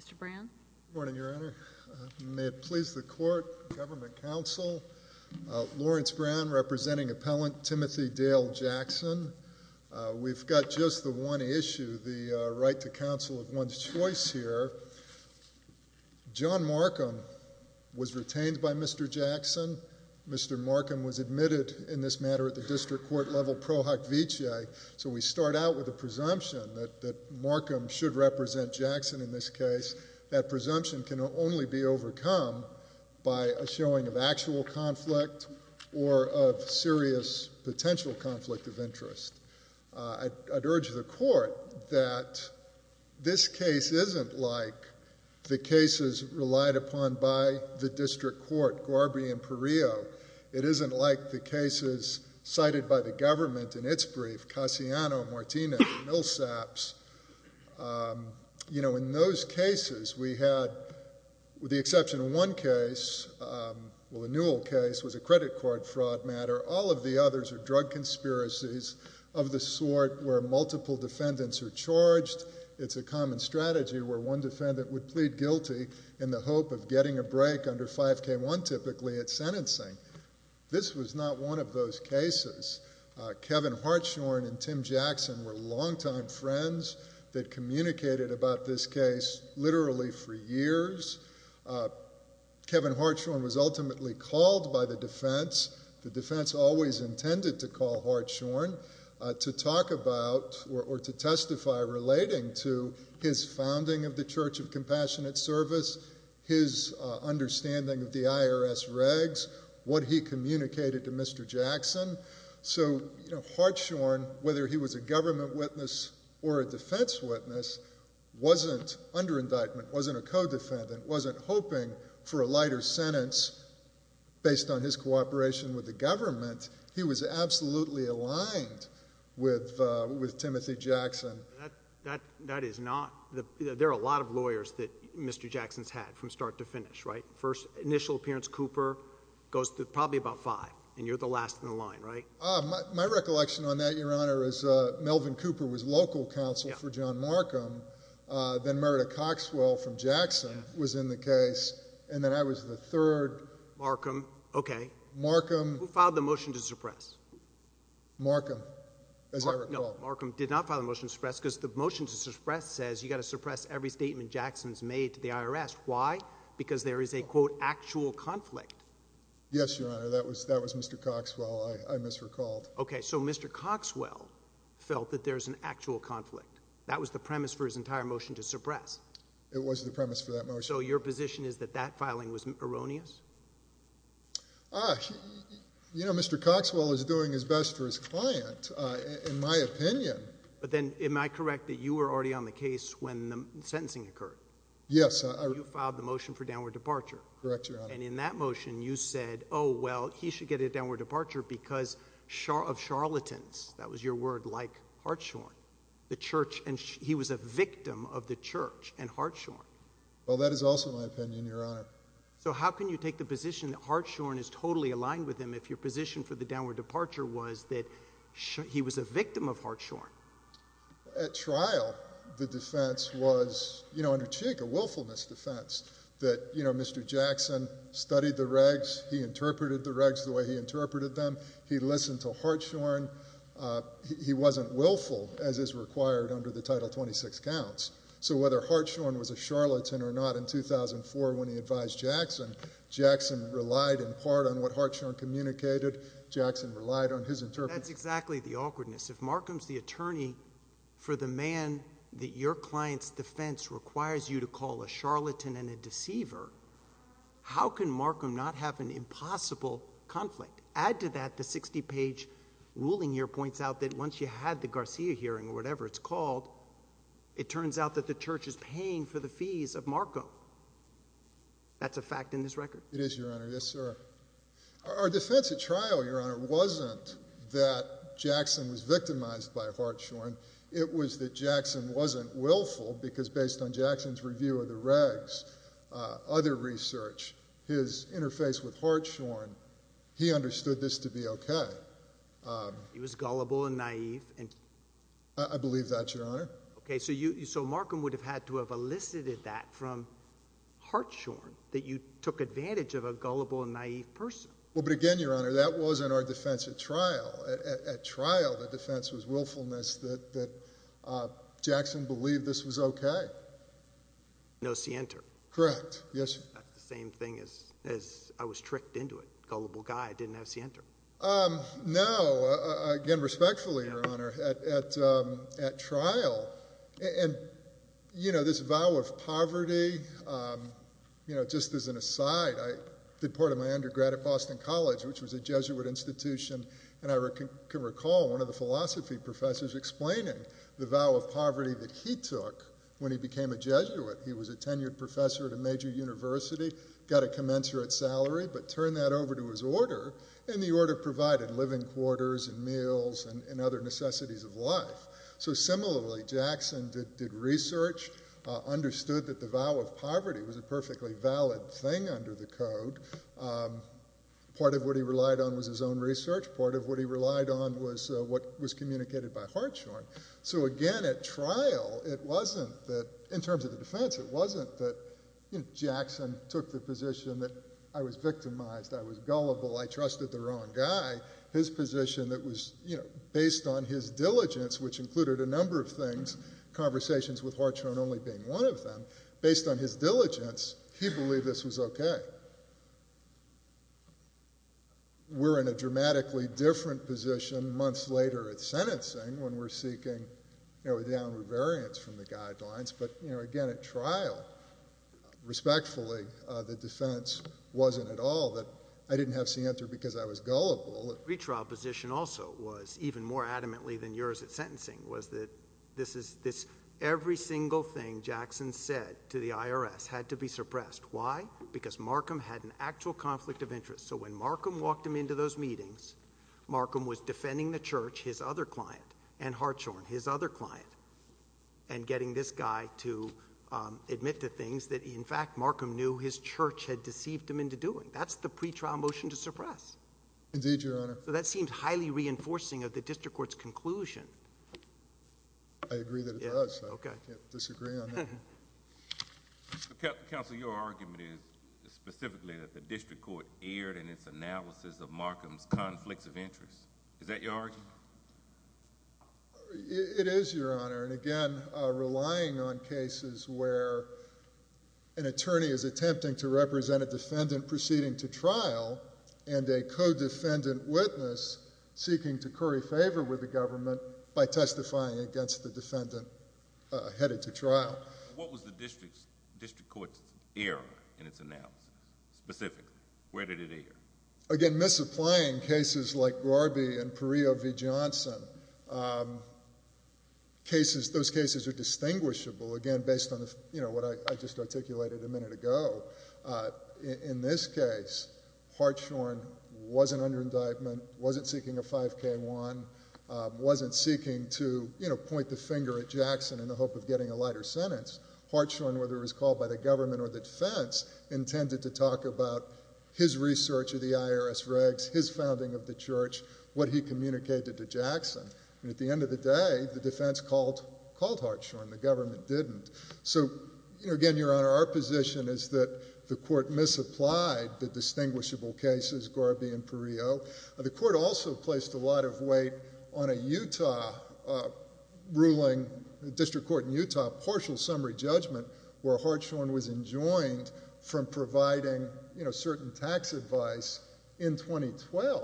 Mr. Brown, good morning, your honor, may it please the court, government counsel, Lawrence Brown representing appellant Timothy Dale Jackson. We've got just the one issue, the right to counsel of one's choice here. John Markham was retained by Mr. Jackson. Mr. Markham was admitted in this matter at the district court level pro hoc vice. So we start out with a presumption that Markham should represent Jackson in this case. That presumption can only be overcome by a showing of actual conflict or of serious potential conflict of interest. I'd urge the court that this case isn't like the cases relied upon by the district court, Garby and Perio. It isn't like the cases cited by the government in its brief, Cassiano, Martinez, Millsaps. In those cases, we had, with the exception of one case, well, the Newell case was a credit card fraud matter. All of the others are drug conspiracies of the sort where multiple defendants are charged. It's a common strategy where one defendant would plead guilty in the hope of getting a break under 5k1 typically at sentencing. This was not one of those cases. Kevin Hartshorn and Tim Jackson were longtime friends that communicated about this case literally for years. Kevin Hartshorn was ultimately called by the defense. The defense always intended to call Hartshorn to talk about or to testify relating to his founding of the Church of Compassionate Service, his understanding of the IRS regs, what he communicated to Mr. Jackson. So Hartshorn, whether he was a government witness or a defense witness, wasn't under indictment, wasn't a co-defendant, wasn't hoping for a lighter sentence. Based on his cooperation with the government, he was absolutely aligned with Timothy Jackson. That is not, there are a lot of lawyers that Mr. Jackson's had from start to finish, right? First, initial appearance, Cooper, goes to probably about five, and you're the last in the line, right? My recollection on that, Your Honor, is Melvin Cooper was local counsel for John Markham. Then Merida Coxwell from Jackson was in the case, and then I was the third. Markham, okay. Markham. Who filed the motion to suppress? Markham, as I recall. Markham did not file a motion to suppress because the motion to suppress says you've got to suppress every statement Jackson's made to the IRS. Why? Because there is a, quote, actual conflict. Yes, Your Honor, that was Mr. Coxwell, I misrecalled. Okay, so Mr. Coxwell felt that there's an actual conflict. That was the premise for his entire motion to suppress. It was the premise for that motion. So your position is that that filing was erroneous? You know, Mr. Coxwell is doing his best for his client, in my opinion. But then, am I correct that you were already on the case when the sentencing occurred? Yes, I- You filed the motion for downward departure. Correct, Your Honor. And in that motion, you said, oh, well, he should get a downward departure because of charlatans, that was your word, like Hartshawn. The church, and he was a victim of the church and Hartshawn. Well, that is also my opinion, Your Honor. So how can you take the position that Hartshawn is totally aligned with him if your position for the downward departure was that he was a victim of Hartshawn? At trial, the defense was, you know, under Cheek, a willfulness defense. That, you know, Mr. Jackson studied the regs. He interpreted the regs the way he interpreted them. He listened to Hartshawn, he wasn't willful as is required under the title 26 counts. So whether Hartshawn was a charlatan or not, in 2004 when he advised Jackson, Jackson relied in part on what Hartshawn communicated, Jackson relied on his interpretation. That's exactly the awkwardness. If Markham's the attorney for the man that your client's defense requires you to call a charlatan and a deceiver. How can Markham not have an impossible conflict? Add to that the 60 page ruling here points out that once you had the Garcia hearing or it turns out that the church is paying for the fees of Markham, that's a fact in this record. It is, your honor, yes, sir. Our defense at trial, your honor, wasn't that Jackson was victimized by Hartshawn. It was that Jackson wasn't willful because based on Jackson's review of the regs, other research, his interface with Hartshawn, he understood this to be okay. He was gullible and naive and. I believe that, your honor. Okay, so Markham would have had to have elicited that from Hartshawn, that you took advantage of a gullible and naive person. Well, but again, your honor, that wasn't our defense at trial. At trial, the defense was willfulness, that Jackson believed this was okay. No scienter. Correct, yes, sir. That's the same thing as I was tricked into it. Gullible guy, didn't have scienter. No, again, respectfully, your honor, at trial. And this vow of poverty, just as an aside, I did part of my undergrad at Boston College, which was a Jesuit institution. And I can recall one of the philosophy professors explaining the vow of poverty that he took when he became a Jesuit. He was a tenured professor at a major university, got a commensurate salary, but turned that over to his order, and the order provided living quarters and meals and other necessities of life. So similarly, Jackson did research, understood that the vow of poverty was a perfectly valid thing under the code. Part of what he relied on was his own research. Part of what he relied on was what was communicated by Hartshawn. So again, at trial, it wasn't that, in terms of the defense, it wasn't that Jackson took the position that I was victimized, I was gullible, I trusted the wrong guy. His position that was based on his diligence, which included a number of things, conversations with Hartshawn only being one of them, based on his diligence, he believed this was okay. We're in a dramatically different position months later at sentencing when we're seeking down variance from the guidelines, but again, at trial, respectfully, the defense wasn't at all that I didn't have to answer because I was gullible. Retrial position also was, even more adamantly than yours at sentencing, was that every single thing Jackson said to the IRS had to be suppressed. Why? Because Markham had an actual conflict of interest. So when Markham walked him into those meetings, Markham was defending the church, his other client, and Hartshawn, his other client, and getting this guy to admit to things that, in fact, Markham knew his church had deceived him into doing. That's the pretrial motion to suppress. Indeed, Your Honor. So that seems highly reinforcing of the district court's conclusion. I agree that it does, so I can't disagree on that. Counsel, your argument is specifically that the district court erred in its analysis of Markham's conflicts of interest. Is that your argument? It is, Your Honor, and again, relying on cases where an attorney is attempting to represent a defendant proceeding to trial and a co-defendant witness seeking to curry favor with the government by testifying against the defendant headed to trial. What was the district court's error in its analysis, specifically? Where did it err? Again, misapplying cases like Garby and Perillo v. Johnson. Those cases are distinguishable, again, based on what I just articulated a minute ago. In this case, Hartshawn wasn't under indictment, wasn't seeking a 5K1, wasn't seeking to point the finger at Jackson in the hope of getting a lighter sentence. Hartshawn, whether it was called by the government or the defense, intended to talk about his research of the IRS regs, his founding of the church, what he communicated to Jackson. At the end of the day, the defense called Hartshawn. The government didn't. So, again, Your Honor, our position is that the court misapplied the distinguishable cases, Garby and Perillo. The court also placed a lot of weight on a Utah ruling, district court in Utah, a partial summary judgment where Hartshawn was enjoined from providing certain tax advice in 2012.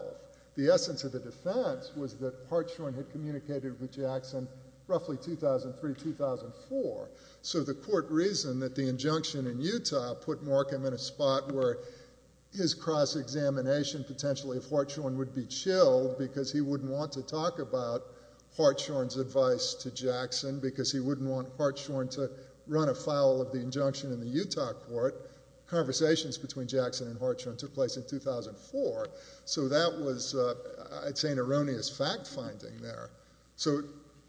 The essence of the defense was that Hartshawn had communicated with Jackson roughly 2003, 2004. So the court reasoned that the injunction in Utah put Markham in a spot where his cross-examination potentially of Hartshawn would be chilled because he wouldn't want to talk about Hartshawn to run afoul of the injunction in the Utah court. Conversations between Jackson and Hartshawn took place in 2004. So that was, I'd say, an erroneous fact-finding there. So,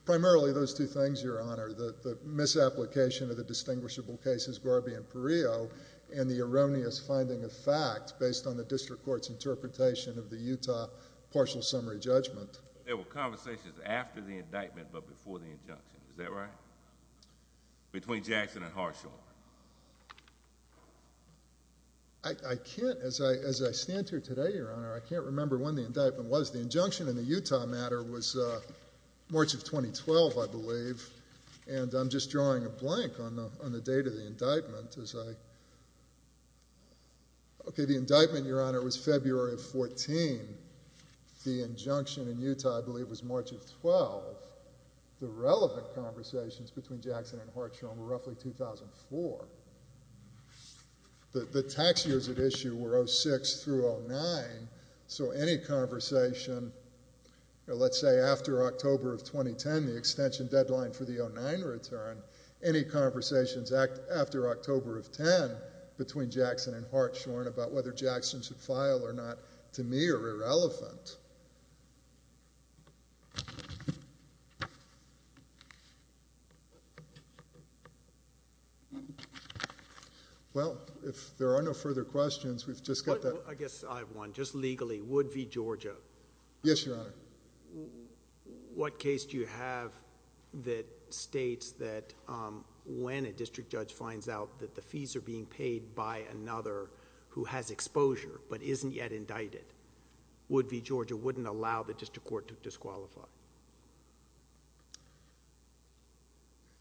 primarily, those two things, Your Honor, the misapplication of the distinguishable cases, Garby and Perillo, and the erroneous finding of fact based on the district court's interpretation of the Utah partial summary judgment. There were conversations after the indictment but before the injunction, is that right? Between Jackson and Hartshawn. I can't, as I stand here today, Your Honor, I can't remember when the indictment was. The injunction in the Utah matter was March of 2012, I believe, and I'm just drawing a blank on the date of the indictment as I... Okay, the indictment, Your Honor, was February of 14. The injunction in Utah, I believe, was March of 12. The relevant conversations between Jackson and Hartshawn were roughly 2004. The tax years at issue were 06 through 09, so any conversation, let's say, after October of 2010, the extension deadline for the 09 return, any conversations after October of 10 between Jackson and Hartshawn about whether Jackson should file or not, to me, are irrelevant. Well, if there are no further questions, we've just got that... I guess I have one, just legally. Wood v. Georgia. Yes, Your Honor. What case do you have that states that when a district judge finds out that the fees are being paid by another who has exposure but isn't yet indicted, Wood v. Georgia wouldn't allow the district court to disqualify?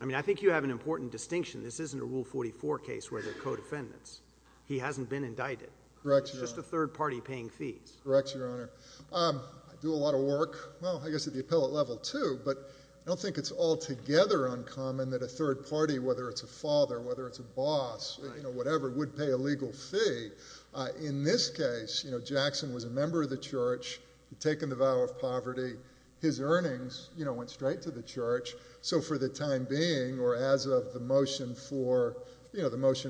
I mean, I think you have an important distinction. This isn't a Rule 44 case where there are co-defendants. He hasn't been indicted. Correct, Your Honor. It's just a third party paying fees. Correct, Your Honor. I do a lot of work, well, I guess at the appellate level, too, but I don't think it's altogether uncommon that a third party, whether it's a father, whether it's a boss, whatever, would pay a legal fee. In this case, Jackson was a member of the church, had taken the vow of poverty. His earnings went straight to the church. So for the time being, or as of the motion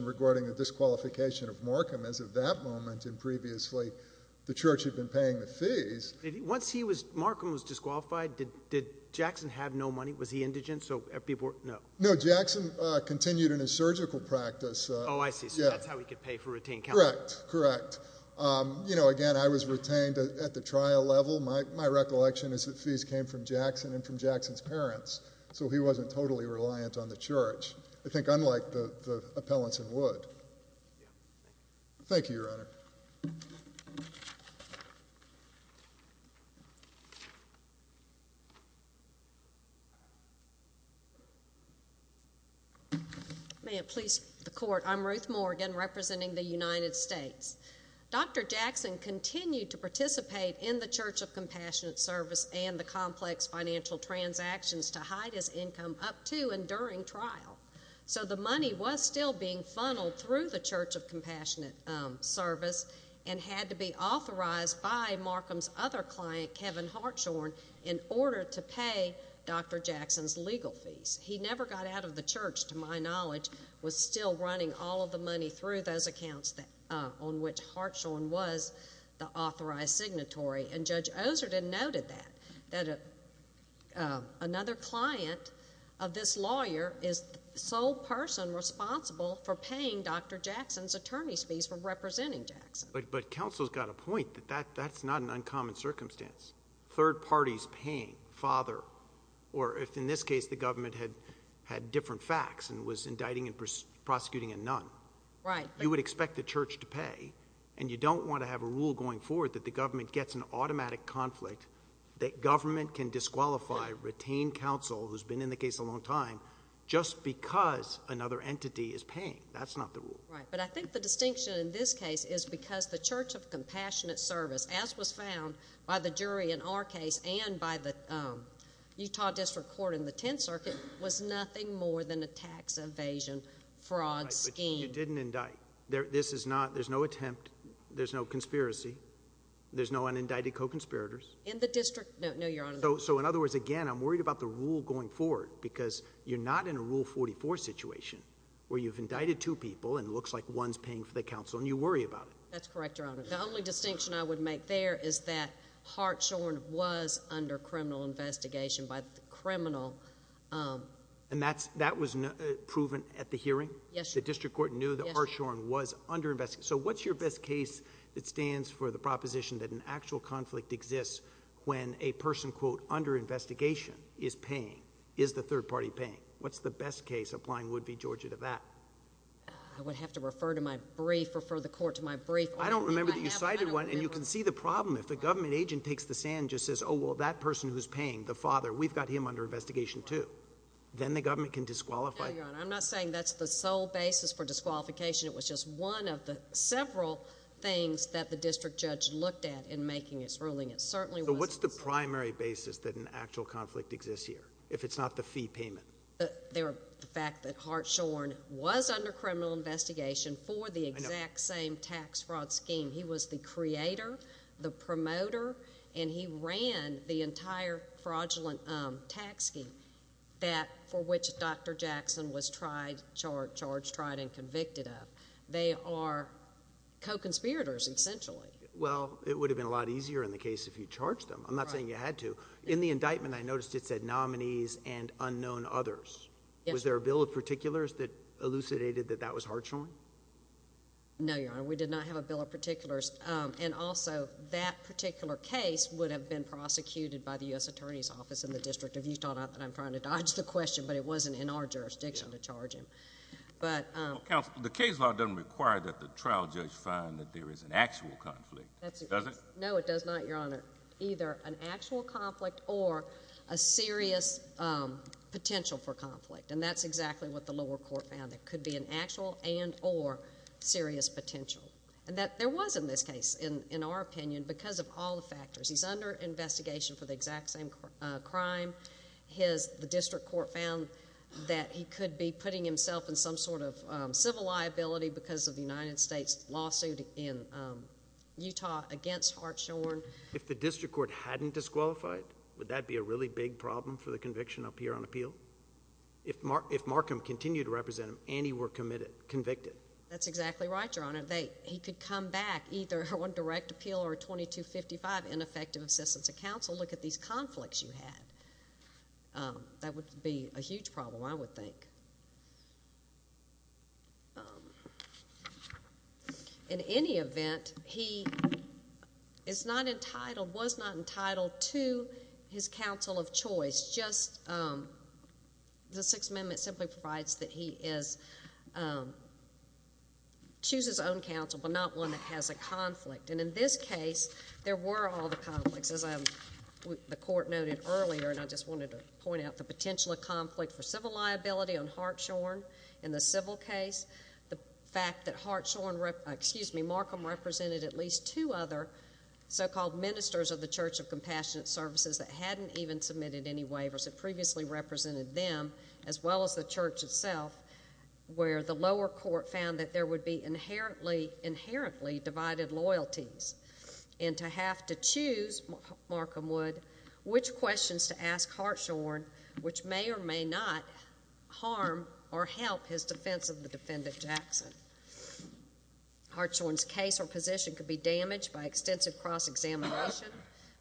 regarding the disqualification of Markham as of that moment and previously, the church had been paying the fees. Once Markham was disqualified, did Jackson have no money? Was he indigent? No. No, Jackson continued in his surgical practice. Oh, I see. So that's how he could pay for routine counseling. Correct. Correct. You know, again, I was retained at the trial level. My recollection is that fees came from Jackson and from Jackson's parents. So he wasn't totally reliant on the church, I think unlike the appellants in Wood. Thank you, Your Honor. May it please the court, I'm Ruth Morgan representing the United States. Dr. Jackson continued to participate in the Church of Compassionate Service and the complex financial transactions to hide his income up to and during trial. So the money was still being funneled through the Church of Compassionate Service and had to be authorized by Markham's other client, Kevin Hartshorne, in order to pay Dr. Jackson's legal fees. He never got out of the church, to my knowledge, was still running all of the money through those accounts on which Hartshorne was the authorized signatory. And Judge Oserden noted that, that another client of this lawyer is the sole person responsible for paying Dr. Jackson's attorney's fees for representing Jackson. But counsel's got a point, that that's not an uncommon circumstance. Third parties paying, father, or if in this case the government had different facts and was indicting and prosecuting a nun. Right. You would expect the church to pay and you don't want to have a rule going forward that the government gets an automatic conflict, that government can disqualify retained counsel who's been in the case a long time just because another entity is paying. That's not the rule. Right. But I think the distinction in this case is because the Church of Compassionate Service, as was found by the jury in our case and by the Utah District Court in the Tenth Circuit, was nothing more than a tax evasion fraud scheme. Right. But you didn't indict. This is not, there's no attempt. There's no conspiracy. There's no unindicted co-conspirators. In the district? No, no, Your Honor. So, so in other words, again, I'm worried about the rule going forward because you're not in a Rule 44 situation where you've indicted two people and it looks like one's paying for the counsel and you worry about it. That's correct, Your Honor. The only distinction I would make there is that Hartshorn was under criminal investigation by the criminal. And that's, that was proven at the hearing? Yes, Your Honor. The district court knew that Hartshorn was under investigation. So what's your best case that stands for the proposition that an actual conflict exists when a person, quote, under investigation is paying, is the third party paying? What's the best case applying Wood v. Georgia to that? I would have to refer to my brief, refer the court to my brief. I don't remember that you cited one and you can see the problem if the government agent takes the sand and just says, oh, well, that person who's paying, the father, we've got him under investigation too. Then the government can disqualify. No, Your Honor. I'm not saying that's the sole basis for disqualification. It was just one of the several things that the district judge looked at in making his ruling. It certainly wasn't. So what's the primary basis that an actual conflict exists here, if it's not the fee payment? The fact that Hartshorn was under criminal investigation for the exact same tax fraud scheme. He was the creator, the promoter, and he ran the entire fraudulent tax scheme that, for They are co-conspirators, essentially. Well, it would have been a lot easier in the case if you charged them. I'm not saying you had to. In the indictment, I noticed it said nominees and unknown others. Was there a bill of particulars that elucidated that that was Hartshorn? No, Your Honor. We did not have a bill of particulars. And also, that particular case would have been prosecuted by the U.S. Attorney's Office in the District of Utah. I'm trying to dodge the question, but it wasn't in our jurisdiction to charge him. Counsel, the case law doesn't require that the trial judge find that there is an actual conflict. Does it? No, it does not, Your Honor. Either an actual conflict or a serious potential for conflict, and that's exactly what the lower court found. There could be an actual and or serious potential. And there was in this case, in our opinion, because of all the factors, he's under investigation for the exact same crime. The district court found that he could be putting himself in some sort of civil liability because of the United States lawsuit in Utah against Hartshorn. If the district court hadn't disqualified, would that be a really big problem for the conviction up here on appeal? If Markham continued to represent him and he were convicted? That's exactly right, Your Honor. He could come back either on direct appeal or 2255, ineffective assistance of counsel. Look at these conflicts you had. That would be a huge problem, I would think. In any event, he is not entitled, was not entitled to his counsel of choice. Just the Sixth Amendment simply provides that he is, chooses his own counsel, but not one that has a conflict. And in this case, there were all the conflicts, as the court noted earlier, and I just wanted to point out the potential of conflict for civil liability on Hartshorn in the civil case. The fact that Hartshorn, excuse me, Markham represented at least two other so-called ministers of the Church of Compassionate Services that hadn't even submitted any waivers that previously represented them, as well as the church itself, where the lower court found that there would be inherently, inherently divided loyalties and to have to choose, Markham would, which questions to ask Hartshorn, which may or may not harm or help his defense of the defendant Jackson. Hartshorn's case or position could be damaged by extensive cross-examination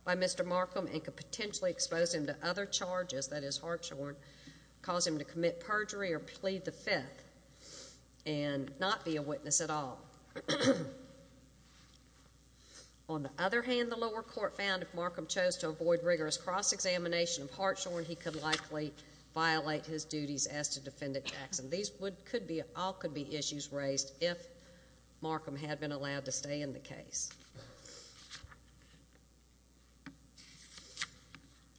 by Mr. Markham and could potentially expose him to other charges, that is Hartshorn, cause him to commit at all. On the other hand, the lower court found if Markham chose to avoid rigorous cross-examination of Hartshorn, he could likely violate his duties as to defendant Jackson. These could be, all could be issues raised if Markham had been allowed to stay in the case.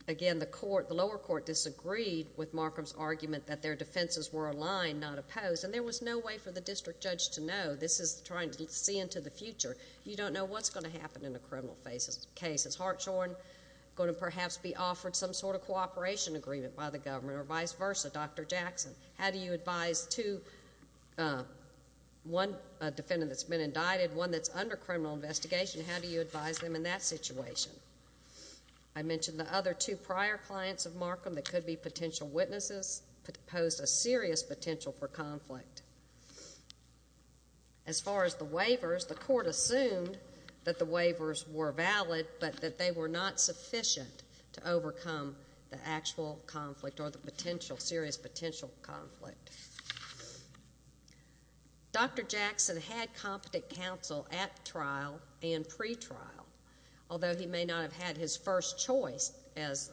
Again, the court, the lower court disagreed with Markham's argument that their defenses were aligned, not opposed, and there was no way for the district judge to know. This is trying to see into the future. You don't know what's going to happen in a criminal case. Is Hartshorn going to perhaps be offered some sort of cooperation agreement by the government or vice versa? Dr. Jackson, how do you advise two, one defendant that's been indicted, one that's under criminal investigation, how do you advise them in that situation? I mentioned the other two prior clients of Markham that could be potential witnesses that pose a serious potential for conflict. As far as the waivers, the court assumed that the waivers were valid, but that they were not sufficient to overcome the actual conflict or the potential, serious potential conflict. Dr. Jackson had competent counsel at trial and pretrial, although he may not have had his first choice. As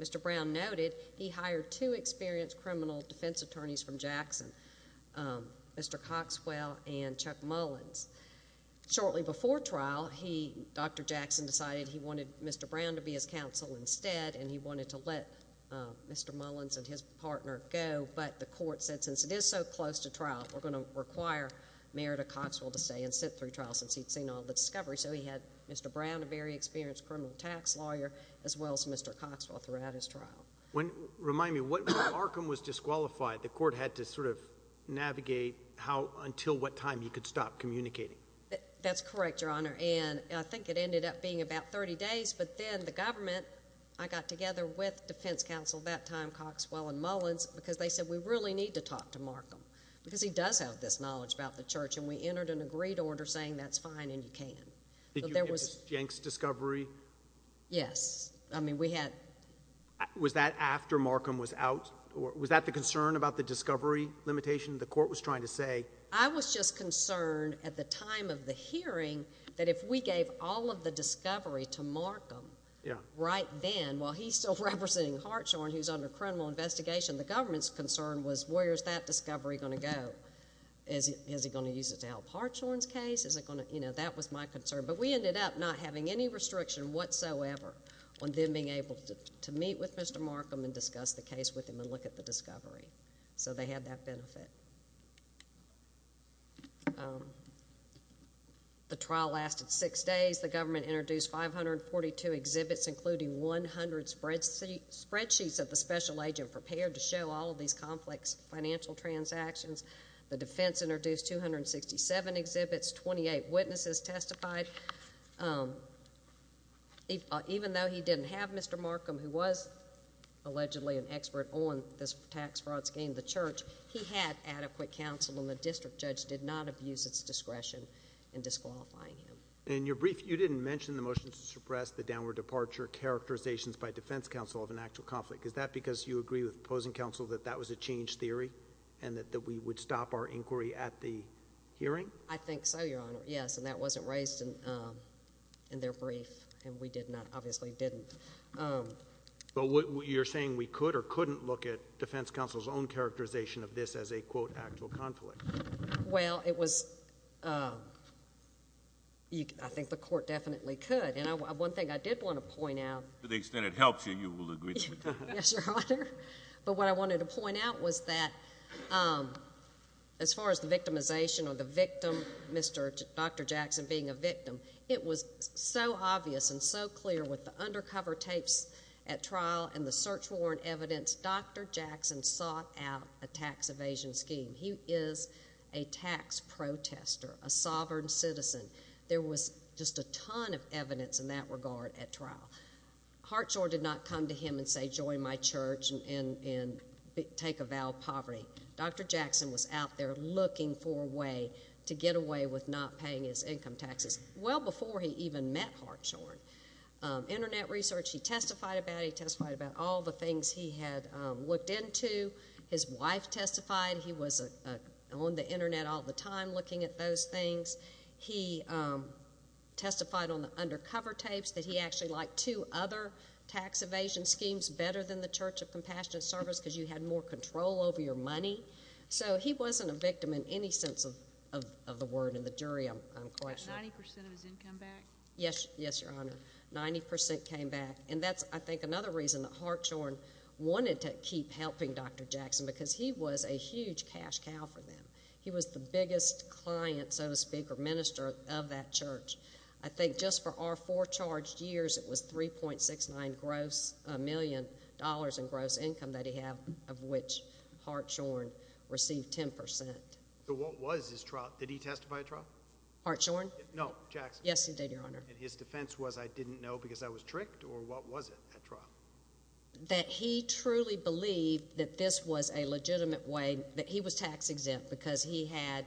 Mr. Brown noted, he hired two experienced criminal defense attorneys from Jackson, Mr. Coxwell and Chuck Mullins. Shortly before trial, Dr. Jackson decided he wanted Mr. Brown to be his counsel instead and he wanted to let Mr. Mullins and his partner go, but the court said since it is so close to trial, we're going to require Merida Coxwell to stay and sit through trial since he'd seen all the discovery. So he had Mr. Brown, a very experienced criminal tax lawyer, as well as Mr. Coxwell throughout his trial. Remind me, when Markham was disqualified, the court had to sort of navigate until what time he could stop communicating? That's correct, Your Honor, and I think it ended up being about 30 days, but then the government, I got together with defense counsel at that time, Coxwell and Mullins, because they said we really need to talk to Markham because he does have this knowledge about the church, and we entered an agreed order saying that's fine and you can, but there Did you get the Jenks discovery? Yes. I mean, we had... Was that after Markham was out? Was that the concern about the discovery limitation the court was trying to say? I was just concerned at the time of the hearing that if we gave all of the discovery to Markham right then, while he's still representing Hartshorn, who's under criminal investigation, the government's concern was where's that discovery going to go? Is it going to use it to help Hartshorn's case? Is it going to, you know, that was my concern, but we ended up not having any restriction whatsoever on them being able to meet with Mr. Markham and discuss the case with him and look at the discovery, so they had that benefit. The trial lasted six days. The government introduced 542 exhibits, including 100 spreadsheets that the special agent prepared to show all of these complex financial transactions. The defense introduced 267 exhibits, 28 witnesses testified. Even though he didn't have Mr. Markham, who was allegedly an expert on this tax fraud scheme, the church, he had adequate counsel and the district judge did not abuse its discretion in disqualifying him. In your brief, you didn't mention the motion to suppress the downward departure characterizations by defense counsel of an actual conflict. Is that because you agree with opposing counsel that that was a change theory and that we would stop our inquiry at the hearing? I think so, Your Honor. Yes, and that wasn't raised in their brief, and we did not, obviously, didn't. But you're saying we could or couldn't look at defense counsel's own characterization of this as a, quote, actual conflict. Well, it was, I think the court definitely could, and one thing I did want to point out. To the extent it helps you, you will agree to it. Yes, Your Honor. But what I wanted to point out was that as far as the victimization or the victim, Dr. Jackson being a victim, it was so obvious and so clear with the undercover tapes at trial and the search warrant evidence, Dr. Jackson sought out a tax evasion scheme. He is a tax protester, a sovereign citizen. There was just a ton of evidence in that regard at trial. Hartshorne did not come to him and say, join my church and take avowal of poverty. Dr. Jackson was out there looking for a way to get away with not paying his income taxes well before he even met Hartshorne. Internet research, he testified about it. He testified about all the things he had looked into. His wife testified. He was on the internet all the time looking at those things. He testified on the undercover tapes that he actually liked two other tax evasion schemes better than the Church of Compassion and Service because you had more control over your money. So he wasn't a victim in any sense of the word in the jury, I'm quite sure. About 90% of his income back? Yes, Your Honor. 90% came back. And that's, I think, another reason that Hartshorne wanted to keep helping Dr. Jackson because he was a huge cash cow for them. He was the biggest client, so to speak, or minister of that church. I think just for our four charged years, it was $3.69 million in gross income that he had, of which Hartshorne received 10%. So what was his trial? Did he testify at trial? Hartshorne? No, Jackson. Yes, he did, Your Honor. And his defense was, I didn't know because I was tricked, or what was it at trial? That he truly believed that this was a legitimate way, that he was tax exempt because he had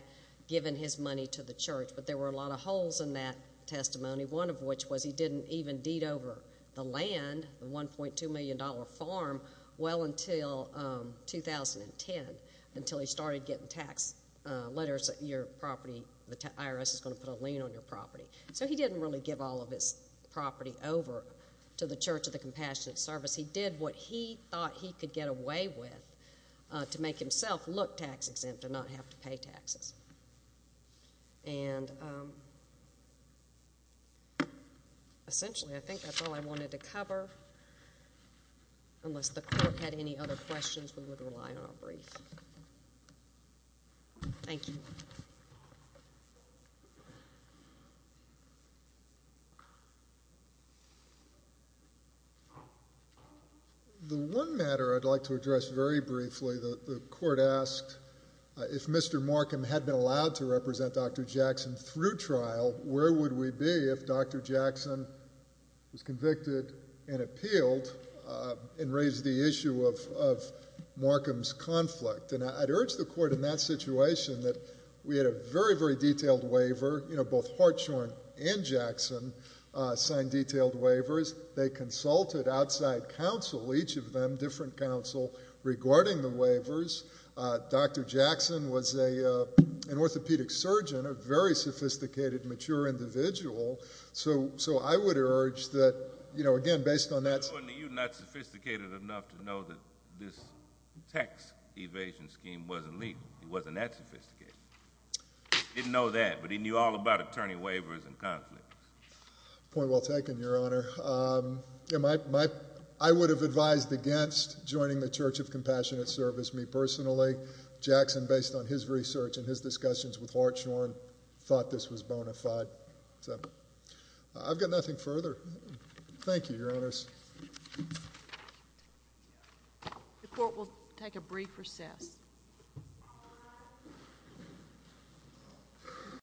given his money to the church, but there were a lot of holes in that testimony, one of which was he didn't even deed over the land, the $1.2 million farm, well until 2010, until he started getting tax letters that your property, the IRS is going to put a lien on your property. So he didn't really give all of his property over to the Church of the Compassionate Service. He did what he thought he could get away with to make himself look tax exempt and not have to pay taxes. And essentially, I think that's all I wanted to cover, unless the court had any other questions we would rely on our brief. Thank you. The one matter I'd like to address very briefly, the court asked if Mr. Markham had been allowed to represent Dr. Jackson through trial, where would we be if Dr. Jackson was convicted and appealed and raised the issue of Markham's conflict? And I'd urge the court in that situation that we had a very, very detailed waiver, you know, both Hartshorn and Jackson signed detailed waivers. They consulted outside counsel, each of them, different counsel, regarding the waivers. Dr. Jackson was an orthopedic surgeon, a very sophisticated, mature individual. So I would urge that, you know, again, based on that... You're not sophisticated enough to know that this tax evasion scheme wasn't legal, it wasn't that sophisticated. He didn't know that, but he knew all about attorney waivers and conflicts. Point well taken, Your Honor. I would have advised against joining the Church of Compassionate Service. Me personally, Jackson, based on his research and his discussions with Hartshorn, thought this was bona fide. I've got nothing further. Thank you, Your Honors. The court will take a brief recess. Thank you, Your Honors.